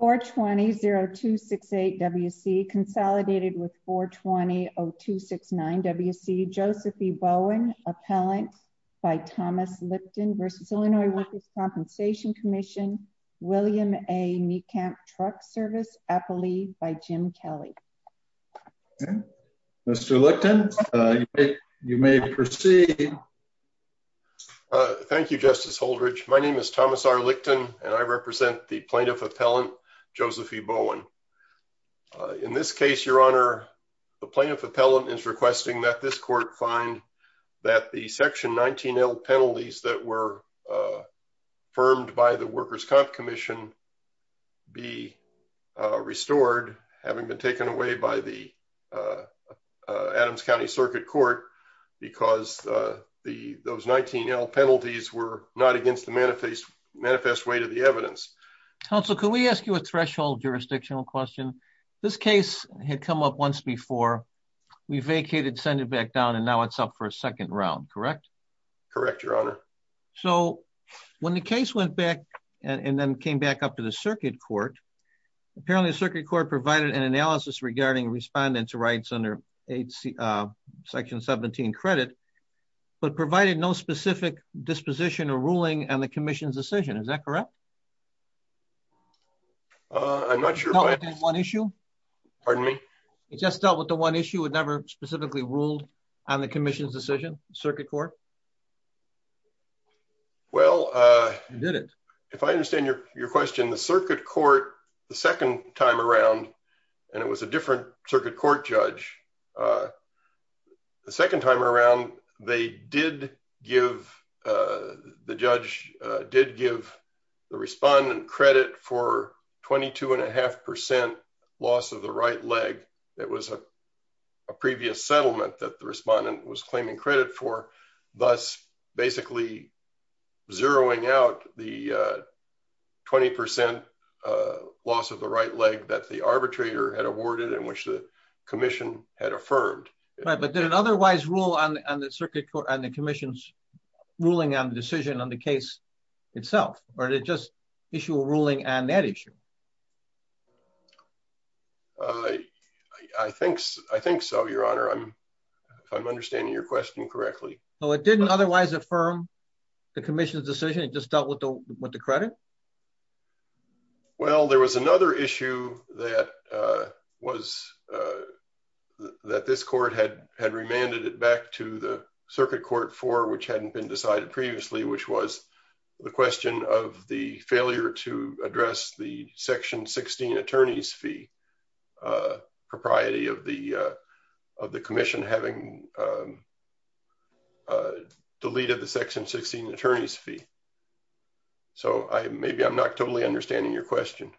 420-0268-WC consolidated with 420-0269-WC. Josephine Bowen, Appellant by Thomas Lichten v. Illinois Workers' Compensation Commission. William A. Meekamp, Truck Service, Appalee by Jim Kelly. Mr. Lichten, you may proceed. Thank you, Justice Holdridge. My name is Thomas R. Lichten and I represent the Plaintiff Appellant, Josephine Bowen. In this case, Your Honor, the Plaintiff Appellant is requesting that this court find that the Section 19L penalties that were affirmed by the Workers' Compensation Commission be restored, having been taken away by the Adams County Circuit Court because those 19L penalties were not against the manifest weight of the evidence. Counsel, can we ask you a threshold jurisdictional question? This case had come up once before. We vacated, sent it back down, and now it's up for a second round, correct? Correct, Your Honor. So, when the case went back and then came back up to the Circuit Court, apparently the Circuit Court provided an analysis regarding respondents' rights under Section 17 credit, but provided no specific disposition or ruling on the Commission's decision. Is that correct? I'm not sure. It dealt with that one issue? Pardon me? It just dealt with the one issue? It never specifically ruled on the Commission's decision, Circuit Court? Well, if I understand your question, the Circuit Court, the second time around, and it was a the respondent credit for 22.5% loss of the right leg. It was a previous settlement that the respondent was claiming credit for, thus basically zeroing out the 20% loss of the right leg that the arbitrator had awarded and which the Commission had affirmed. Right, but did it otherwise rule on the Circuit Court and the Commission's decision on the case itself? Or did it just issue a ruling on that issue? I think so, Your Honor, if I'm understanding your question correctly. So, it didn't otherwise affirm the Commission's decision? It just dealt with the credit? Well, there was another issue that this court had remanded it back to the which was the question of the failure to address the section 16 attorney's fee propriety of the Commission having deleted the section 16 attorney's fee. So, maybe I'm not totally understanding your question.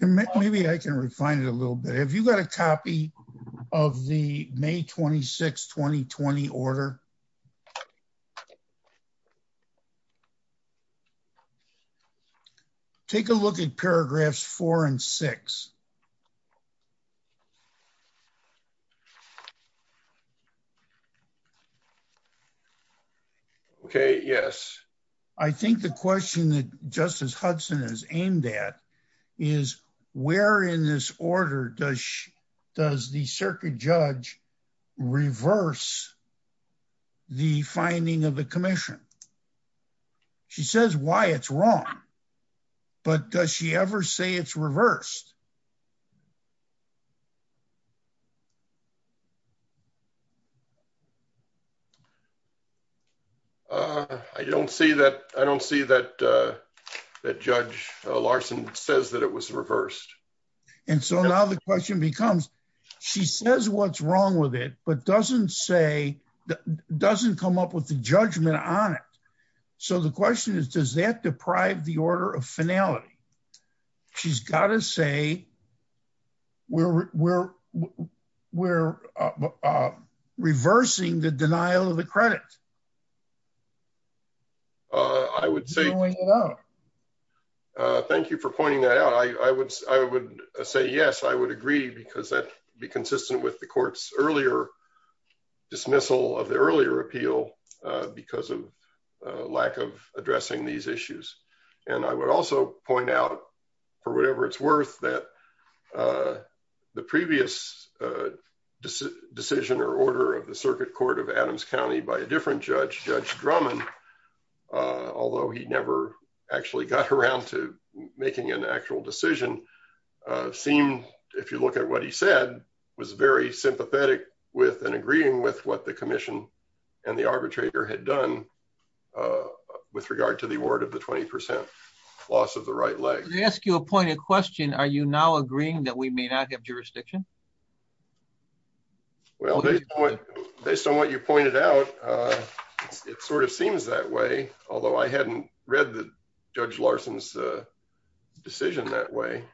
Maybe I can refine it a little bit. Have you got a copy of the May 26, 2020 order? Yes. Take a look at paragraphs four and six. Okay, yes. I think the question that Justice Hudson has aimed at is where in this order does the circuit judge reverse the finding of the Commission? She says why it's wrong, but does she ever say it's reversed? I don't see that. I don't see that Judge Larson says that it was reversed. And so, now the question becomes she says what's wrong with it, but doesn't say doesn't come up with the judgment on it. So, the question is does that deprive the order of finality? She's got to say we're reversing the denial of the credit. I would say no. Thank you for pointing that out. I would say yes. I would agree because that would be consistent with the court's earlier dismissal of the earlier appeal because of lack of addressing these issues. And I would also point out for whatever it's worth that the previous decision or order of circuit court of Adams County by a different judge, Judge Drummond, although he never actually got around to making an actual decision, seemed, if you look at what he said, was very sympathetic with and agreeing with what the Commission and the arbitrator had done with regard to the award of the 20% loss of the right leg. Let me ask you a pointed question. Are you now agreeing that we may not have jurisdiction? Well, based on what you pointed out, it sort of seems that way, although I hadn't read the Judge Larson's decision that way,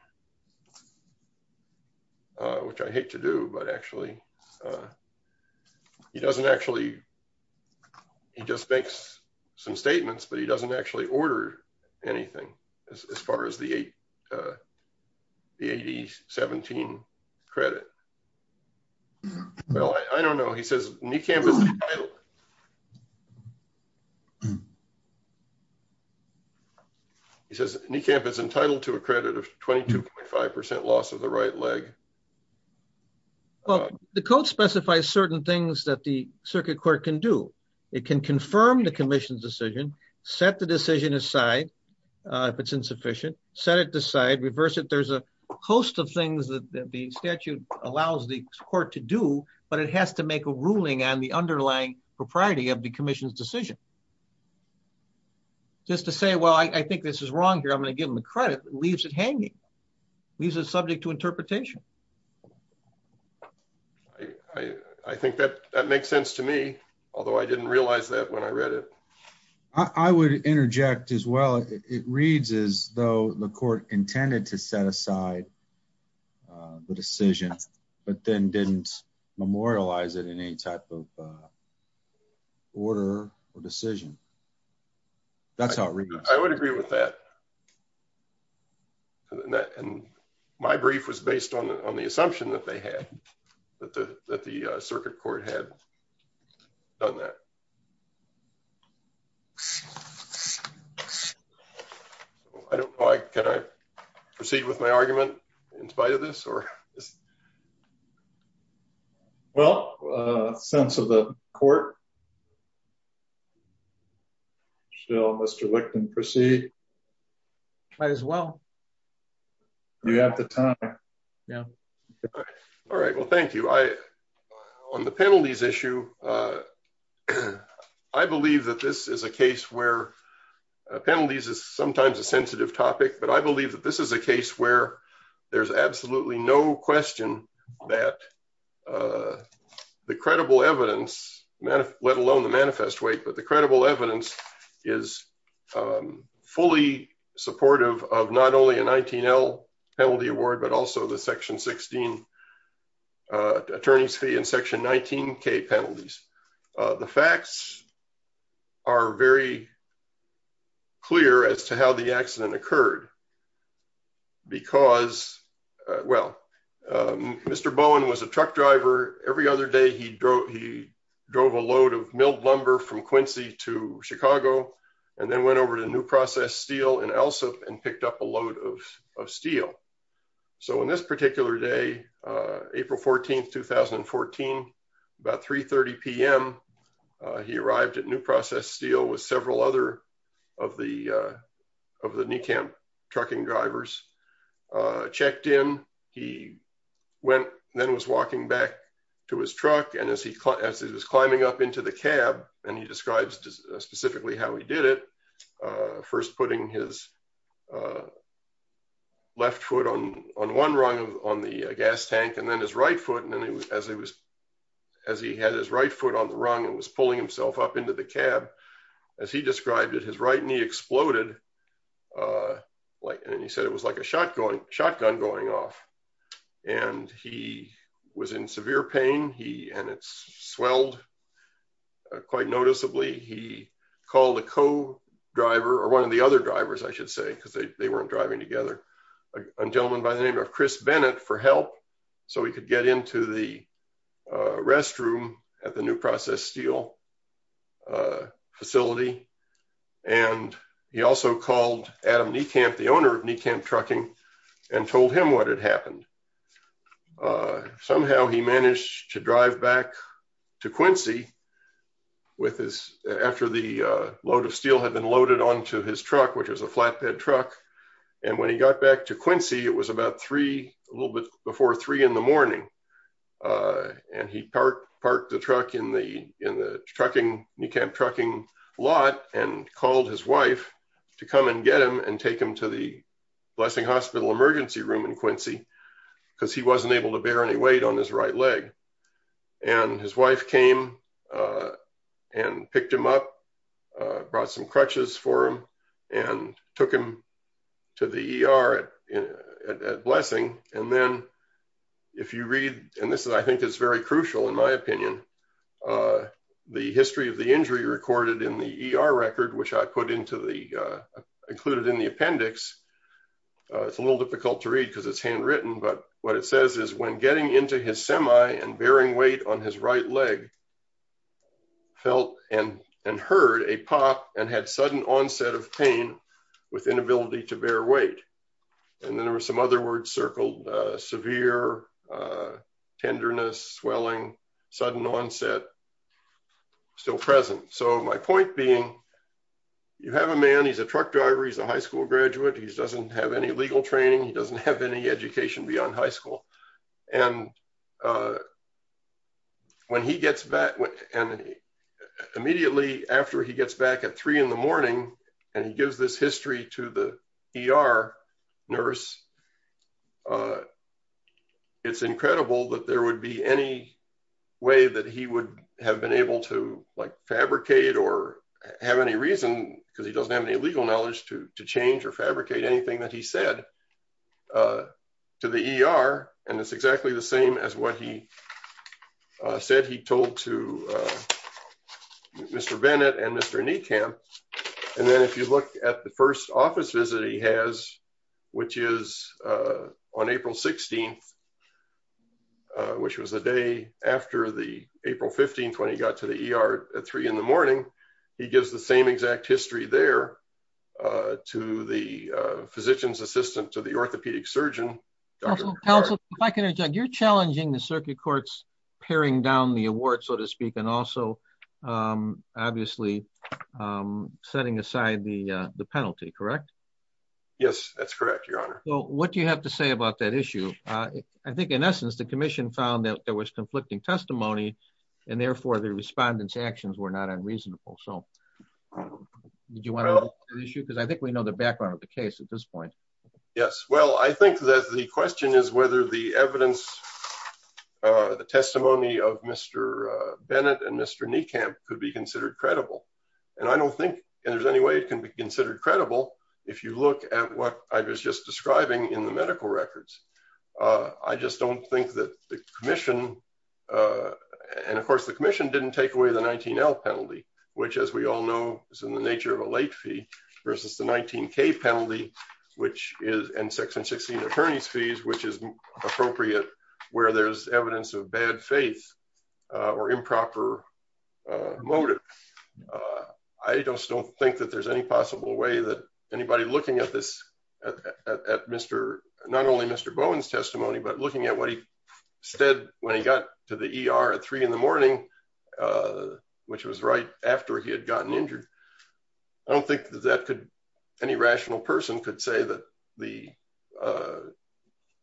which I hate to do. But actually, he doesn't actually, he just makes some statements, but he doesn't actually order anything as far as the 2017 credit. Well, I don't know. He says NECAMP is entitled. He says NECAMP is entitled to a credit of 22.5% loss of the right leg. Well, the code specifies certain things that the circuit court can do. It can confirm the Commission's decision, set the decision aside if it's insufficient, set it aside, reverse it. There's a host of things that the statute allows the court to do, but it has to make a ruling on the underlying propriety of the Commission's decision. Just to say, well, I think this is wrong here, I'm going to give him the credit, leaves it hanging, leaves it subject to interpretation. I think that makes sense to me, although I didn't realize that when I read it. I would interject as well. It reads as though the court intended to set aside the decision, but then didn't memorialize it in any type of order or decision. That's how it reads. I would agree with that. My brief was based on the assumption that they had, that the circuit court had done that. I don't know, can I proceed with my argument in spite of this? Well, sense of the court, shall Mr. Lichten proceed? Might as well. You have the time. Yeah. All right. Well, thank you. On the penalties issue, I believe that this is a case where penalties is sometimes a sensitive topic, but I believe that this is a case where there's absolutely no question that the credible evidence, let alone the manifest weight, but the credible evidence is fully supportive of not only a 19L penalty award, but also the section 16 attorney's fee and section 19K penalties. The facts are very clear as to how the accident occurred because, well, Mr. Bowen was a truck driver. Every other day he drove a load of milled lumber from Quincy to Chicago, and then went over to New Process Steel in Elseville and picked up a load of steel. So on this particular day, April 14th, 2014, about 3.30 PM, he arrived at New Process Steel with several other of the NECAMP trucking drivers, checked in, he went, then was walking back to his truck, and as he was climbing up into the cab, and he describes specifically how he did it, first putting his left foot on one rung on the gas tank, and then his right foot, and then as he had his right foot on the rung and was pulling himself up into the cab, as he described it, his right knee exploded, and he said it was like a shotgun going off, and he was in severe pain, and it swelled quite noticeably. He called a co-driver, or one of the other drivers, I should say, because they weren't driving together, a gentleman by the name of Chris Bennett for help, so he could get into the restroom at the New Process Steel facility, and he also called Adam NECAMP, the owner of NECAMP trucking, and told him what had happened. Somehow, he managed to drive back to Quincy with his, after the load of steel had been loaded onto his truck, which was a flatbed truck, and when he got back to Quincy, it was about 3, a little bit before 3 in the morning, and he parked the truck in the trucking, NECAMP trucking lot, and called his wife to come and get him, and take him to the Blessing Hospital emergency room in Quincy, because he wasn't able to bear any weight on his right leg, and his wife came and picked him up, brought some crutches for him, and took him to the ER at Blessing, and then, if you read, and this is, I think it's very crucial in my opinion, the history of the injury recorded in the ER record, which I put into the, included in the appendix, it's a little difficult to read, because it's handwritten, but what it says is, when getting into his semi and bearing weight on his right leg, felt and heard a pop and had sudden onset of pain with inability to bear weight, and then there were some other words circled, severe, tenderness, swelling, sudden onset, still present, so my point being, you have a man, he's a truck driver, he's a high school graduate, he doesn't have any legal training, he doesn't have any education beyond high school, and when he gets back, and immediately after he gets back at 3 in the morning, and he gives this history to the ER nurse, it's incredible that there would be any way that he would have been able to, like, fabricate or have any reason, because he doesn't have any legal knowledge to change or fabricate anything that he said to the ER, and it's exactly the same as what he said he told to Mr. Bennett and Mr. Niekamp, and then, if you look at the after the April 15th, when he got to the ER at 3 in the morning, he gives the same exact history there to the physician's assistant to the orthopedic surgeon. Counsel, if I can interject, you're challenging the circuit court's paring down the award, so to speak, and also, obviously, setting aside the penalty, correct? Yes, that's correct, your honor. Well, what do you have to say about that? Well, I think that the question is whether the evidence, the testimony of Mr. Bennett and Mr. Niekamp could be considered credible, and I don't think there's any way it can be considered credible if you look at what I was just describing in medical records. I just don't think that the commission, and of course, the commission didn't take away the 19L penalty, which, as we all know, is in the nature of a late fee, versus the 19K penalty, which is, and Section 16 attorney's fees, which is appropriate where there's evidence of bad faith or improper motive. I just don't think that there's any possible way that anybody looking at not only Mr. Bowen's testimony, but looking at what he said when he got to the ER at three in the morning, which was right after he had gotten injured. I don't think that any rational person could say that the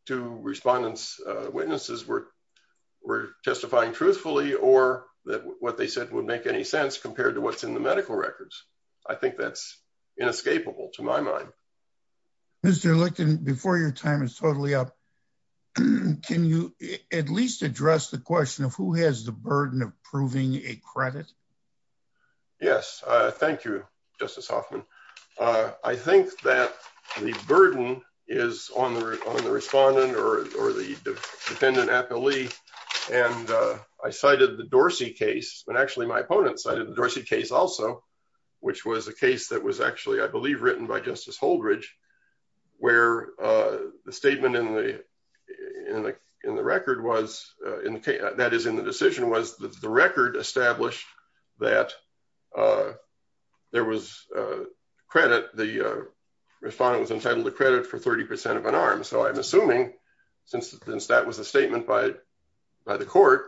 two respondents' witnesses were testifying truthfully or that what they said would make any sense compared to what's in the medical records. I think that's inescapable to my mind. Mr. Lichten, before your time is totally up, can you at least address the question of who has the burden of proving a credit? Yes, thank you, Justice Hoffman. I think that the burden is on the respondent or the defendant appellee, and I cited the Dorsey case, but actually my opponent cited the Dorsey case also, which was a case that was actually, I believe, written by Justice Holdridge, where the statement in the record was, that is in the decision, was that the record established that there was credit, the respondent was entitled to credit for 30% of an arm. So I'm assuming since that was a statement by the court,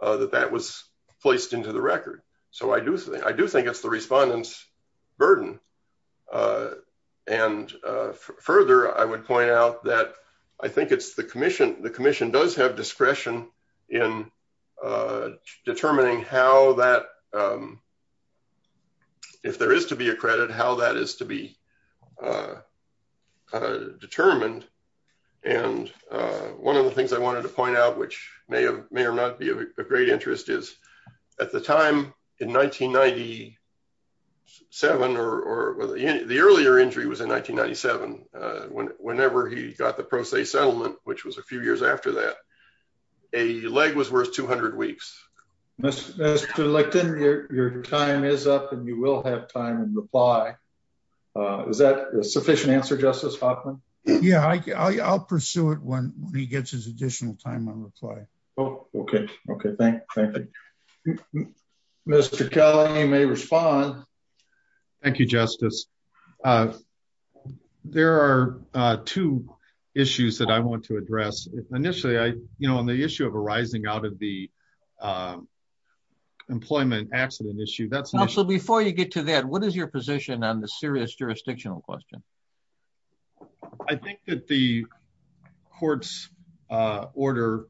that that was placed into the record. So I do think it's the respondent's burden. And further, I would point out that I think it's the commission, the commission does have discretion in determining how that, if there is to be a credit, how that is to be determined. And one of the things I wanted to point out, which may or may not be of great interest, is at the time in 1997, or the earlier injury was in 1997, whenever he got the Pro Se settlement, which was a few years after that, a leg was worth 200 weeks. Mr. Lichten, your time is up and you will have time in reply. Is that a sufficient answer, Justice Hoffman? Yeah, I'll pursue it when he gets his additional time on reply. Oh, okay. Okay. Thank you. Mr. Kelly, you may respond. Thank you, Justice. There are two issues that I want to address. Initially, I, you know, on the issue of arising out of the employment accident issue, that's... So before you get to that, what is your position on the serious jurisdictional question? I think that the court's order,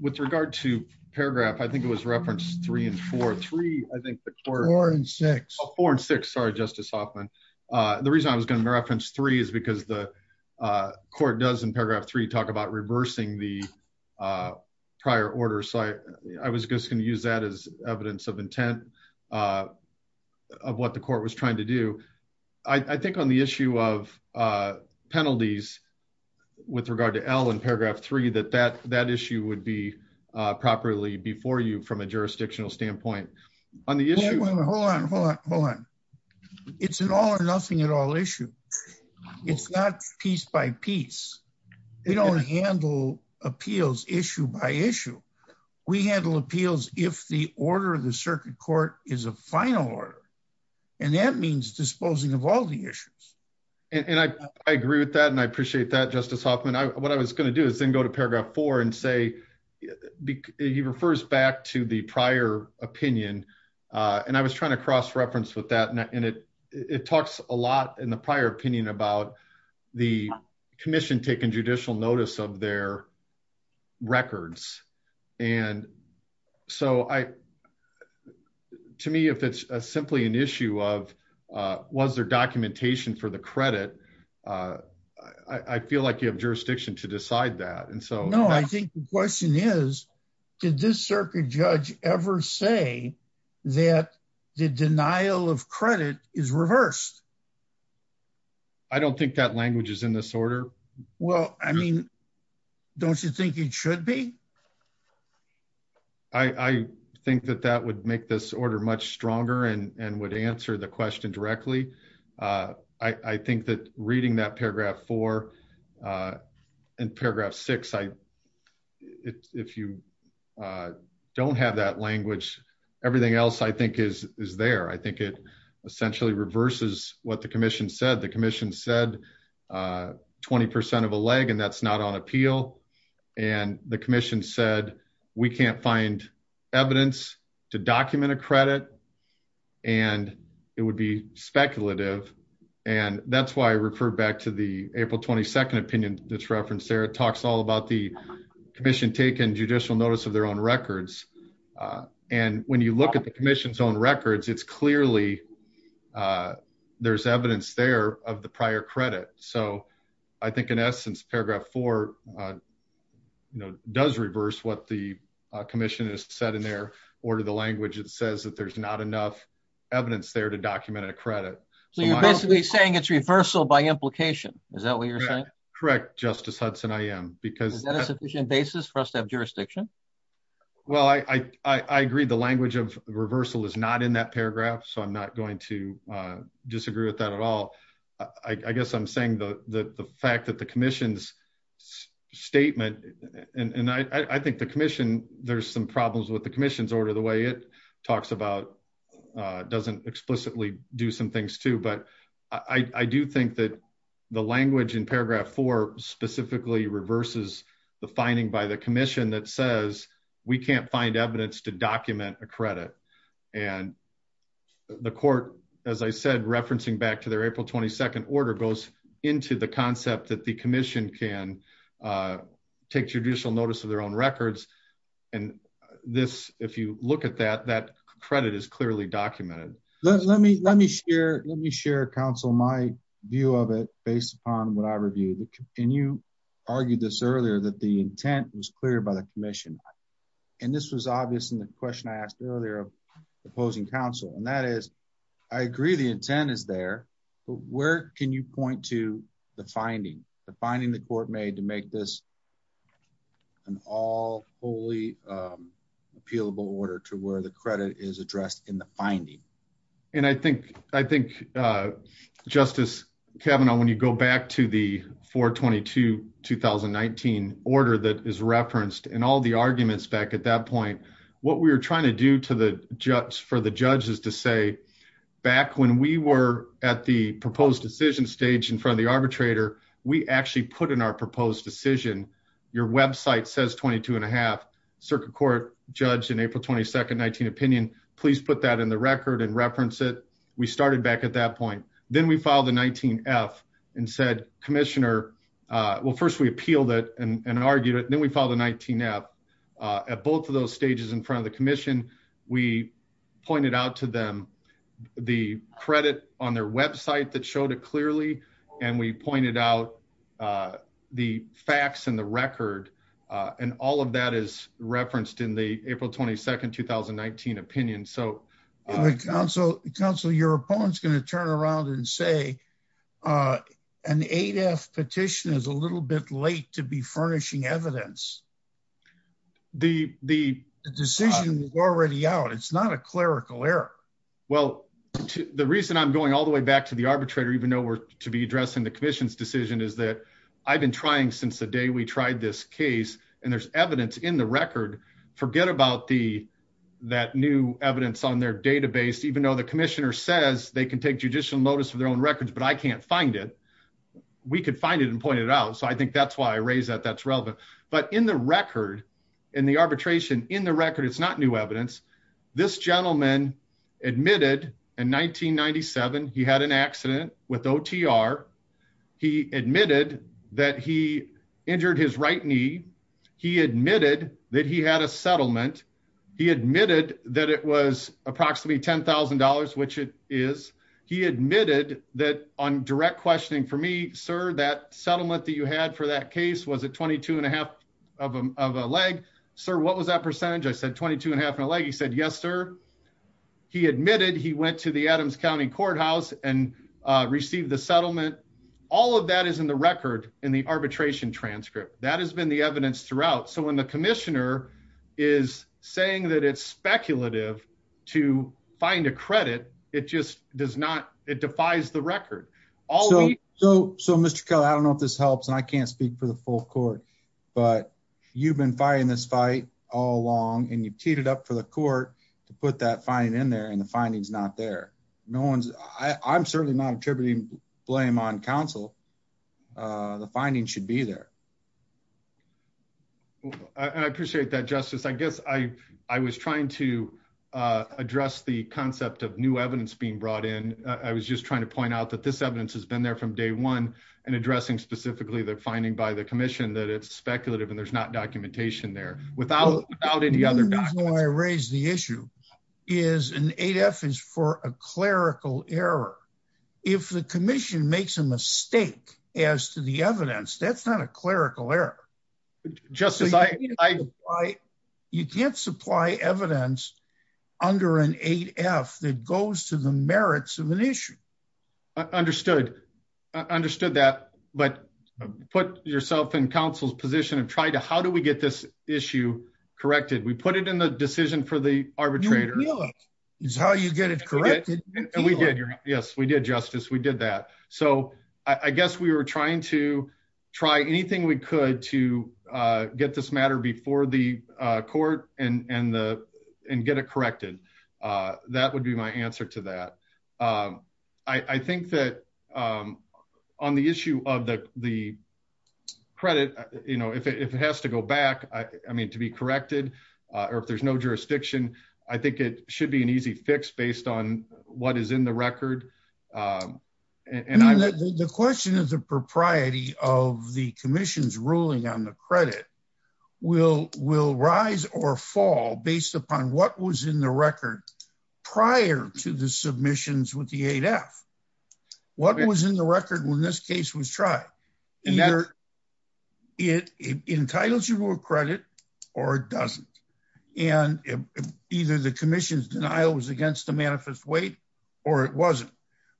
with regard to paragraph, I think it was reference three and four, three, I think the court... Four and six. Four and six. Sorry, Justice Hoffman. The reason I was going to reference three is because the court does in paragraph three talk about reversing the prior order. So I was just going to use that as evidence of intent of what the court was trying to do. I think on the issue of penalties, with regard to L in paragraph three, that that issue would be properly before you from a jurisdictional standpoint. On the issue... Hold on, hold on, hold on. It's an all or nothing at all issue. It's not piece by piece. We don't handle appeals issue by issue. We handle appeals if the order of the circuit court is a final order. And that means disposing of all the issues. And I agree with that. And I appreciate that, Justice Hoffman. What I was going to do is then go to paragraph four and say, he refers back to the prior opinion. And I was trying to cross reference with that. And it talks a lot in the prior opinion about the commission taking judicial notice of their records. And so to me, if it's simply an issue of was there documentation for the credit, I feel like you have jurisdiction to decide that. And so... No, I think the question is, did this circuit judge ever say that the denial of credit is reversed? I don't think that language is in this order. Well, I mean, don't you think it should be? I think that that would make this order much stronger and would answer the question directly. I think that reading that paragraph four and paragraph six, if you don't have that language, everything else I think is there. I think it essentially reverses what the commission said. The commission said 20% of a leg, and that's not on appeal. And the commission said, we can't find evidence to document a credit and it would be speculative. And that's why I referred back to the April 22nd opinion that's referenced there. It talks all about the commission taking judicial notice of their own records. And when you look at the commission's own records, it's clearly there's evidence there of the prior credit. So I think in essence, paragraph four does reverse what the commission has said in their order of the language. It says that there's not enough evidence there to document a credit. So you're basically saying it's reversal by implication. Is that what you're saying? Correct, Justice Hudson, I am. Is that a sufficient basis for us to have jurisdiction? Well, I agree the language of reversal is not in that paragraph. So I'm not going to disagree with that at all. I guess I'm saying the fact that the commission's statement, and I think the commission, there's some problems with the commission's order, the way it talks about doesn't explicitly do some things too. But I do think that the language in paragraph four specifically reverses the finding by the commission that says we can't find evidence to document a credit. And the court, as I said, referencing back to their April 22nd order goes into the concept that the commission can take judicial notice of their own records. And this, if you look at that, that credit is clearly documented. Let me share counsel my view of it based upon what I reviewed. And you argued this earlier, that the intent was clear by the commission. And this was obvious in the question I asked earlier of opposing counsel. And that is, I agree the intent is there. But where can you point to the finding, the finding the court made to make this an all wholly appealable order to where the And I think, I think, Justice Kavanaugh, when you go back to the 422 2019 order that is referenced and all the arguments back at that point, what we were trying to do to the judge for the judges to say, back when we were at the proposed decision stage in front of the arbitrator, we actually put in our proposed decision. Your website says 22 and a half circuit court judge in April 22nd 19 opinion, please put that in the record and reference it. We started back at that point. Then we filed a 19 F and said, commissioner, uh, well, first we appealed it and argued it. Then we filed a 19 F, uh, at both of those stages in front of the commission, we pointed out to them the credit on their website that showed it clearly. And we pointed out, uh, the facts and the opinion. So the council council, your opponent's going to turn around and say, uh, an eight F petition is a little bit late to be furnishing evidence. The, the decision was already out. It's not a clerical error. Well, the reason I'm going all the way back to the arbitrator, even though we're to be addressing the commission's decision is that I've been trying since the day we tried this case and there's in the record, forget about the, that new evidence on their database, even though the commissioner says they can take judicial notice for their own records, but I can't find it. We could find it and point it out. So I think that's why I raised that that's relevant, but in the record and the arbitration in the record, it's not new evidence. This gentleman admitted in 1997, he had an accident with OTR. He admitted that he injured his right knee. He admitted that he had a settlement. He admitted that it was approximately $10,000, which it is. He admitted that on direct questioning for me, sir, that settlement that you had for that case was a 22 and a half of a, of a leg, sir. What was that percentage? I said 22 and a half and a leg. He said, yes, sir. He admitted he went to the Adams County courthouse and received the settlement. All of that is in the record in the arbitration transcript. That has been the evidence throughout. So when the commissioner is saying that it's speculative to find a credit, it just does not, it defies the record. So, so, so Mr. Kelly, I don't know if this helps and I can't speak for the full court, but you've been fighting this fight all along and you've teed it up for the court to put that fine in there and the findings not there. No one's I I'm certainly not attributing blame on council. Uh, the findings should be there. I appreciate that justice. I guess I, I was trying to, uh, address the concept of new evidence being brought in. Uh, I was just trying to point out that this evidence has been there from day one and addressing specifically the finding by the commission that it's speculative and there's not documentation there without, without any other, I raised the issue is an eight F is for a clerical error. If the commission makes a mistake as to the evidence, that's not a clerical error. Just as I, I, you can't supply evidence under an eight F that goes to the merits of an issue. I understood, understood that, but put yourself in council's position and try to, how do we get this issue corrected? We put it in the decision for the arbitrator is how you get it corrected. And we did. Yes, we did justice. We did that. So I guess we were trying to try anything we could to, uh, get this matter before the court and, and the, and get it corrected. Uh, that would be my answer to that. Um, I think that, um, on the issue of the, the credit, you know, if it, if it has to go back, I mean, to be corrected, uh, or if there's no jurisdiction, I think it should be an easy fix based on what is in the record. Um, and I, the question is the propriety of the commission's ruling on the credit will, will rise or fall based upon what was in the record prior to the submissions with the eight F what was in the record when this case was tried, it entitles you to a credit or it doesn't. And either the commission's denial was against the manifest weight or it wasn't.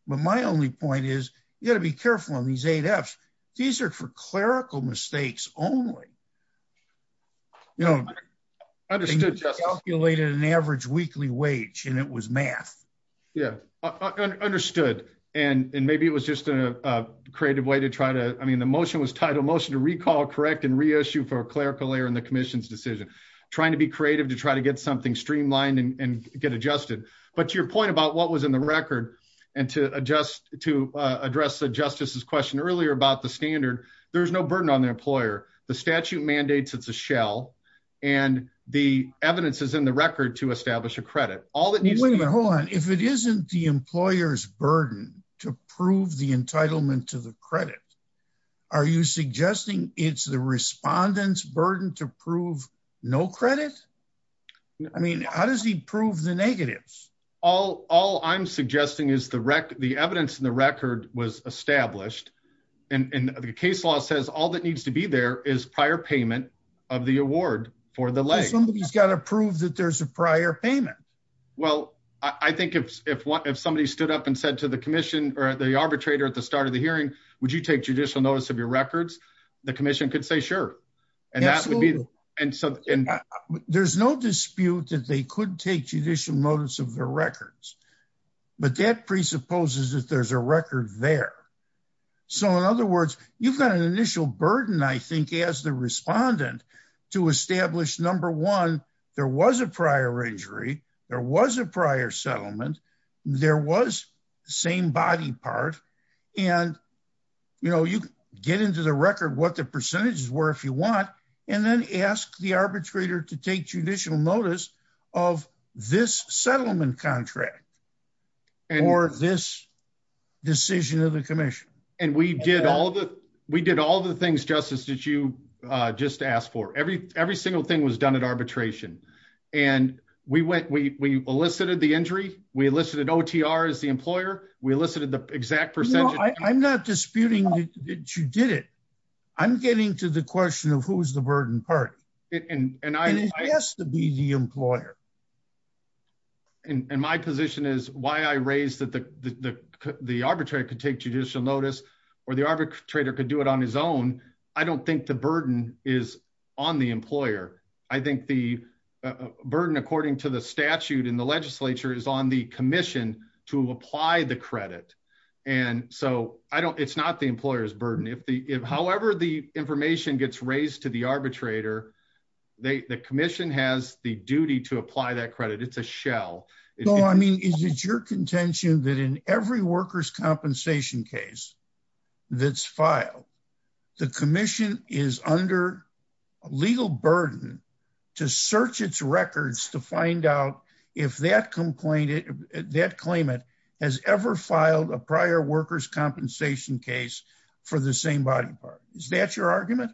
But my only point is you got to be careful on these eight F's. These are for clerical mistakes only, you know, calculated an average weekly wage and it was math. Yeah. I understood. And maybe it was just a creative way to try to, I mean, the motion was titled motion to recall, correct, and reissue for clerical error in the commission's decision, trying to be creative, to try to get something streamlined and get adjusted. But your point about what was in the record and to adjust, to address the justice's question earlier about the standard, there's no burden on the employer. The statute mandates it's a shell and the evidence is in the record to establish a credit. Hold on. If it isn't the employer's burden to prove the entitlement to the credit, are you suggesting it's the respondents burden to prove no credit? I mean, how does he prove the negatives? All, all I'm suggesting is the rec, the evidence in the record was established and the case law says all that needs to be there is prior payment of the award for the leg. Somebody's got to prove that there's a prior payment. Well, I think if, if one, if somebody stood up and said to the commission or the arbitrator at the start of the hearing, would you take judicial notice of your records? The commission could say sure. And that would be, and so there's no dispute that they could take judicial notice of their records, but that presupposes that there's a record there. So in other words, you've got an respondent to establish number one, there was a prior injury. There was a prior settlement. There was same body part. And you know, you get into the record, what the percentages were, if you want, and then ask the arbitrator to take judicial notice of this settlement contract or this decision of the commission. And we did all the, we did all the things, Justice, that you just asked for. Every, every single thing was done at arbitration. And we went, we, we elicited the injury. We elicited OTR as the employer. We elicited the exact percentage. I'm not disputing that you did it. I'm getting to the question of who's the burden party. And it has to be the employer. And my position is why I raised that the, the arbitrator could take judicial notice or the arbitrator could do it on his own. I don't think the burden is on the employer. I think the burden, according to the statute in the legislature is on the commission to apply the credit. And so I don't, it's not the employer's burden. If the, if however, the information gets raised to the arbitrator, they, the commission has the duty to apply that credit. It's a shell. No, I mean, is it your contention that in every workers' compensation case that's filed, the commission is under a legal burden to search its records to find out if that complainant, that claimant has ever filed a prior workers' compensation case for the same body part. Is that your argument?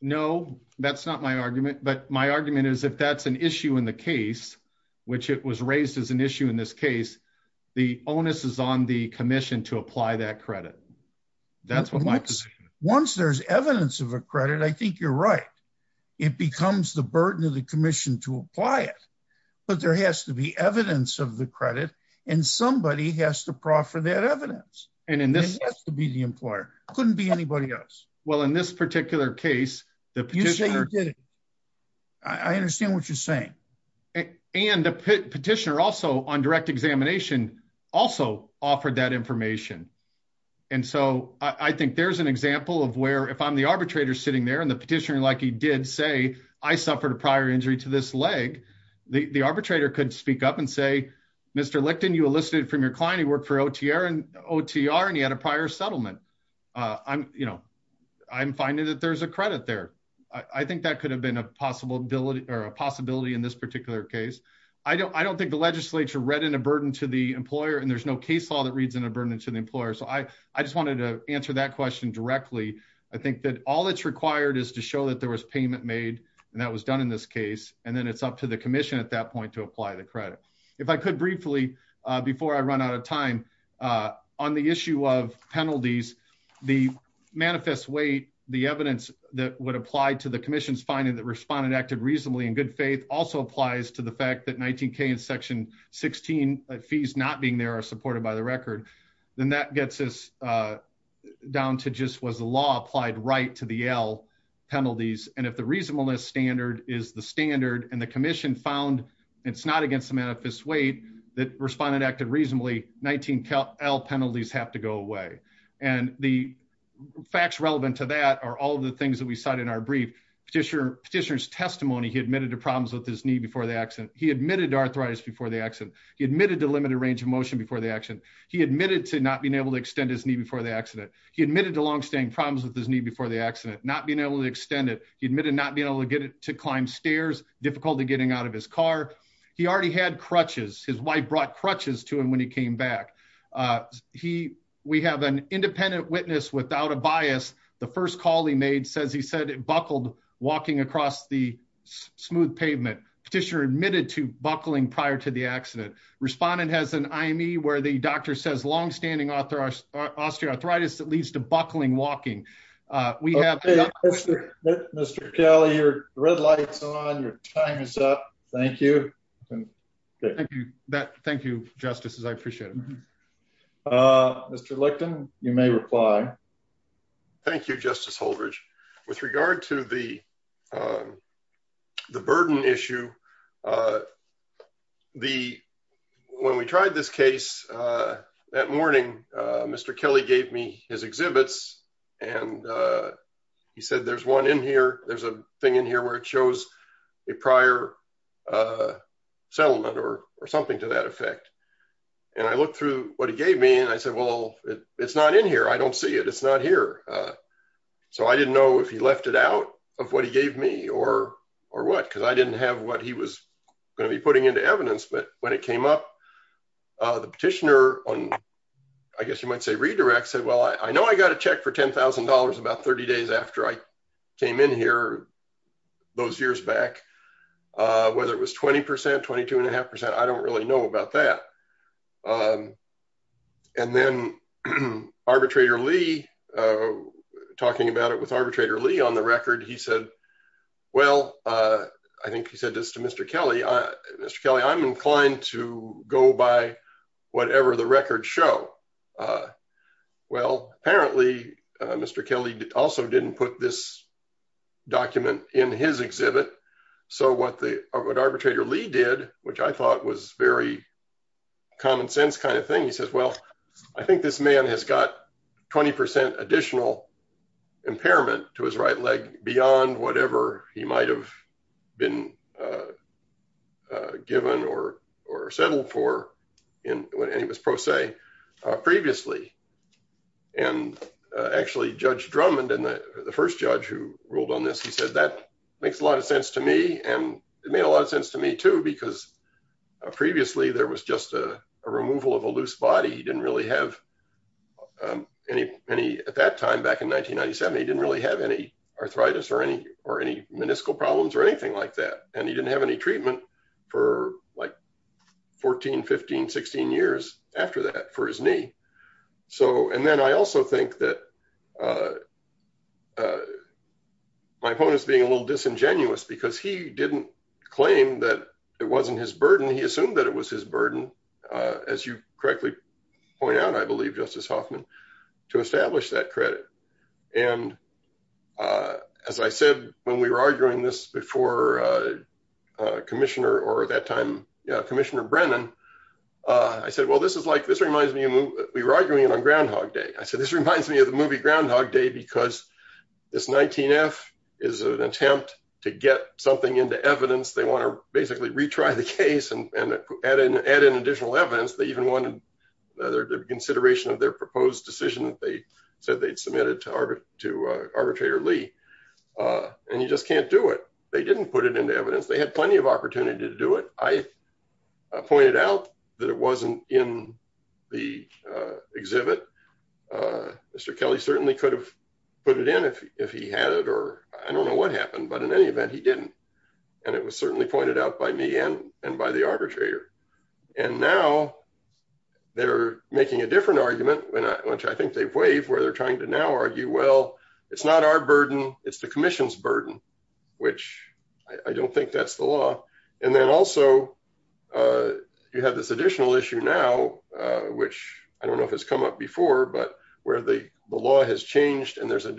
No, that's not my argument, but my argument is if that's an issue in the case, which it was raised as an issue in this case, the onus is on the commission to apply that credit. That's what my position is. Once there's evidence of a credit, I think you're right. It becomes the burden of the commission to apply it, but there has to be evidence of the credit and somebody has to Well, in this particular case, I understand what you're saying. And the petitioner also on direct examination also offered that information. And so I think there's an example of where if I'm the arbitrator sitting there and the petitioner, like he did say, I suffered a prior injury to this leg. The arbitrator could speak up and say, Mr. Licton, you elicited from your client. He worked for OTR and OTR, and he had a prior settlement. I'm finding that there's a credit there. I think that could have been a possibility or a possibility in this particular case. I don't think the legislature read in a burden to the employer and there's no case law that reads in a burden to the employer. So I just wanted to answer that question directly. I think that all that's required is to show that there was payment made and that was done in this case. And then it's up to the commission at that point to apply the credit. If I could briefly, uh, before I run out of time, uh, on the issue of penalties, the manifest weight, the evidence that would apply to the commission's finding that responded, acted reasonably in good faith also applies to the fact that 19 K and section 16 fees not being there are supported by the record. Then that gets us, uh, down to just was the law applied right to the L penalties. And if the reasonableness standard is the standard and the commission found it's not against the manifest weight that responded, acted reasonably 19 L penalties have to go away. And the facts relevant to that are all of the things that we cited in our brief petitioner petitioner's testimony. He admitted to problems with his knee before the accident. He admitted to arthritis before the accident. He admitted to limited range of motion before the action. He admitted to not being able to extend his knee before the accident. He admitted to longstanding problems with his knee before the accident, not being able to extend it. He admitted not being to climb stairs, difficult to getting out of his car. He already had crutches. His wife brought crutches to him when he came back. Uh, he, we have an independent witness without a bias. The first call he made says he said it buckled walking across the smooth pavement petitioner admitted to buckling prior to the accident. Respondent has an IME where the doctor says longstanding author Austria arthritis that leads to buckling walking. Uh, we have Mr Kelly, your red lights on your time is up. Thank you. Thank you. Thank you. Justices. I appreciate it. Uh, Mr. Licton, you may reply. Thank you, Justice Holdridge. With regard to the, um, the burden issue, uh, the, when we tried this case, uh, that morning, uh, Mr. Kelly gave me his exhibits and, uh, he said, there's one in here. There's a thing in here where it shows a prior, uh, settlement or, or something to that effect. And I looked through what he gave me and I said, well, it's not in here. I don't see it. It's not here. Uh, so I didn't know if he left it out of what he gave me or, or what, cause I didn't have he was going to be putting into evidence, but when it came up, uh, the petitioner on, I guess you might say redirect said, well, I know I got a check for $10,000 about 30 days after I came in here those years back, uh, whether it was 20%, 22 and a half percent, I don't really know about that. Um, and then arbitrator Lee, uh, talking about it with arbitrator Lee on the Mr. Kelly, uh, Mr. Kelly, I'm inclined to go by whatever the records show. Uh, well, apparently, uh, Mr. Kelly also didn't put this document in his exhibit. So what the, what arbitrator Lee did, which I thought was very common sense kind of thing, he says, well, I think this man has got 20% additional impairment to his right leg beyond whatever he might've been, uh, uh, given or, or settled for when he was pro se, uh, previously. And, uh, actually judge Drummond and the first judge who ruled on this, he said, that makes a lot of sense to me. And it made a lot of sense to me too, because previously there was just a removal of a loose body. He didn't really have, um, any, any at that time back in 1997, he didn't have any arthritis or any, or any meniscal problems or anything like that. And he didn't have any treatment for like 14, 15, 16 years after that for his knee. So, and then I also think that, uh, uh, my opponents being a little disingenuous because he didn't claim that it wasn't his burden. He assumed that it was his burden, uh, as you correctly point out, I believe justice Hoffman to establish that credit. And, uh, as I said, when we were arguing this before, uh, uh, commissioner or that time, uh, commissioner Brennan, uh, I said, well, this is like, this reminds me of, we were arguing on Groundhog day. I said, this reminds me of the movie Groundhog day, because this 19 F is an attempt to get something into evidence. They want to basically retry the case and add in, add in additional evidence. They even wanted their consideration of their proposed decision that they said they'd submitted to arbitrator Lee. Uh, and you just can't do it. They didn't put it into evidence. They had plenty of opportunity to do it. I pointed out that it wasn't in the, uh, exhibit, uh, Mr. Kelly certainly could have put it in if he had it, or I don't know what happened, but in any event, he didn't. And it was certainly pointed out by me and, and by the arbitrator. And now they're making a different argument, which I think they've waived, where they're trying to now argue, well, it's not our burden. It's the commission's burden, which I don't think that's the law. And then also, uh, you have this additional issue now, uh, which I don't know if it's come up before, but where the law has changed and there's a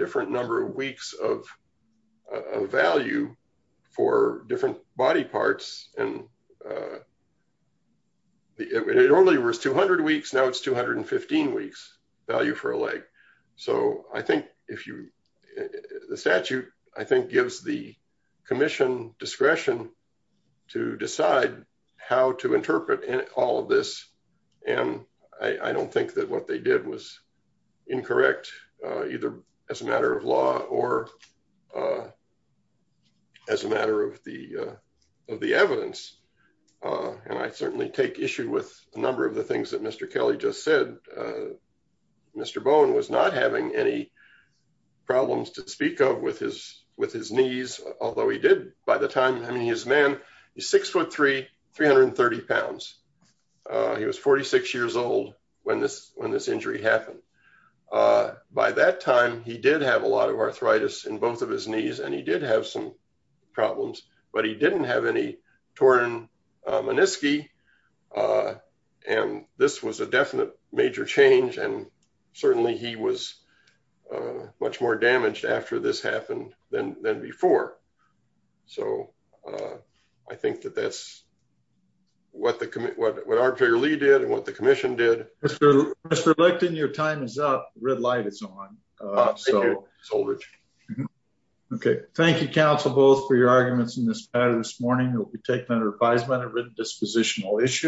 uh, it only was 200 weeks. Now it's 215 weeks value for a leg. So I think if you, the statute, I think gives the commission discretion to decide how to interpret all of this. And I don't think that what they did was incorrect, uh, either as a matter of law or, uh, as a matter of the, uh, of the evidence. Uh, and I certainly take issue with a number of the things that Mr. Kelly just said, uh, Mr. Bowen was not having any problems to speak of with his, with his knees. Although he did by the time, I mean, his man is six foot three, 330 pounds. Uh, he was 46 years old when this, when this injury happened, uh, by that time, he did have a lot of arthritis in both of his knees and he did have some problems, but he didn't have any torn, uh, menisci, uh, and this was a definite major change. And certainly he was, uh, much more damaged after this happened than, than before. So, uh, I think that that's what the committee, what, what arbitrarily did and what the commission did. Mr. Lichten, your time is up. Red light is on. Uh, so okay. Thank you counsel both for your arguments in this matter this morning. We'll be taking under advisement a written dispositional issue.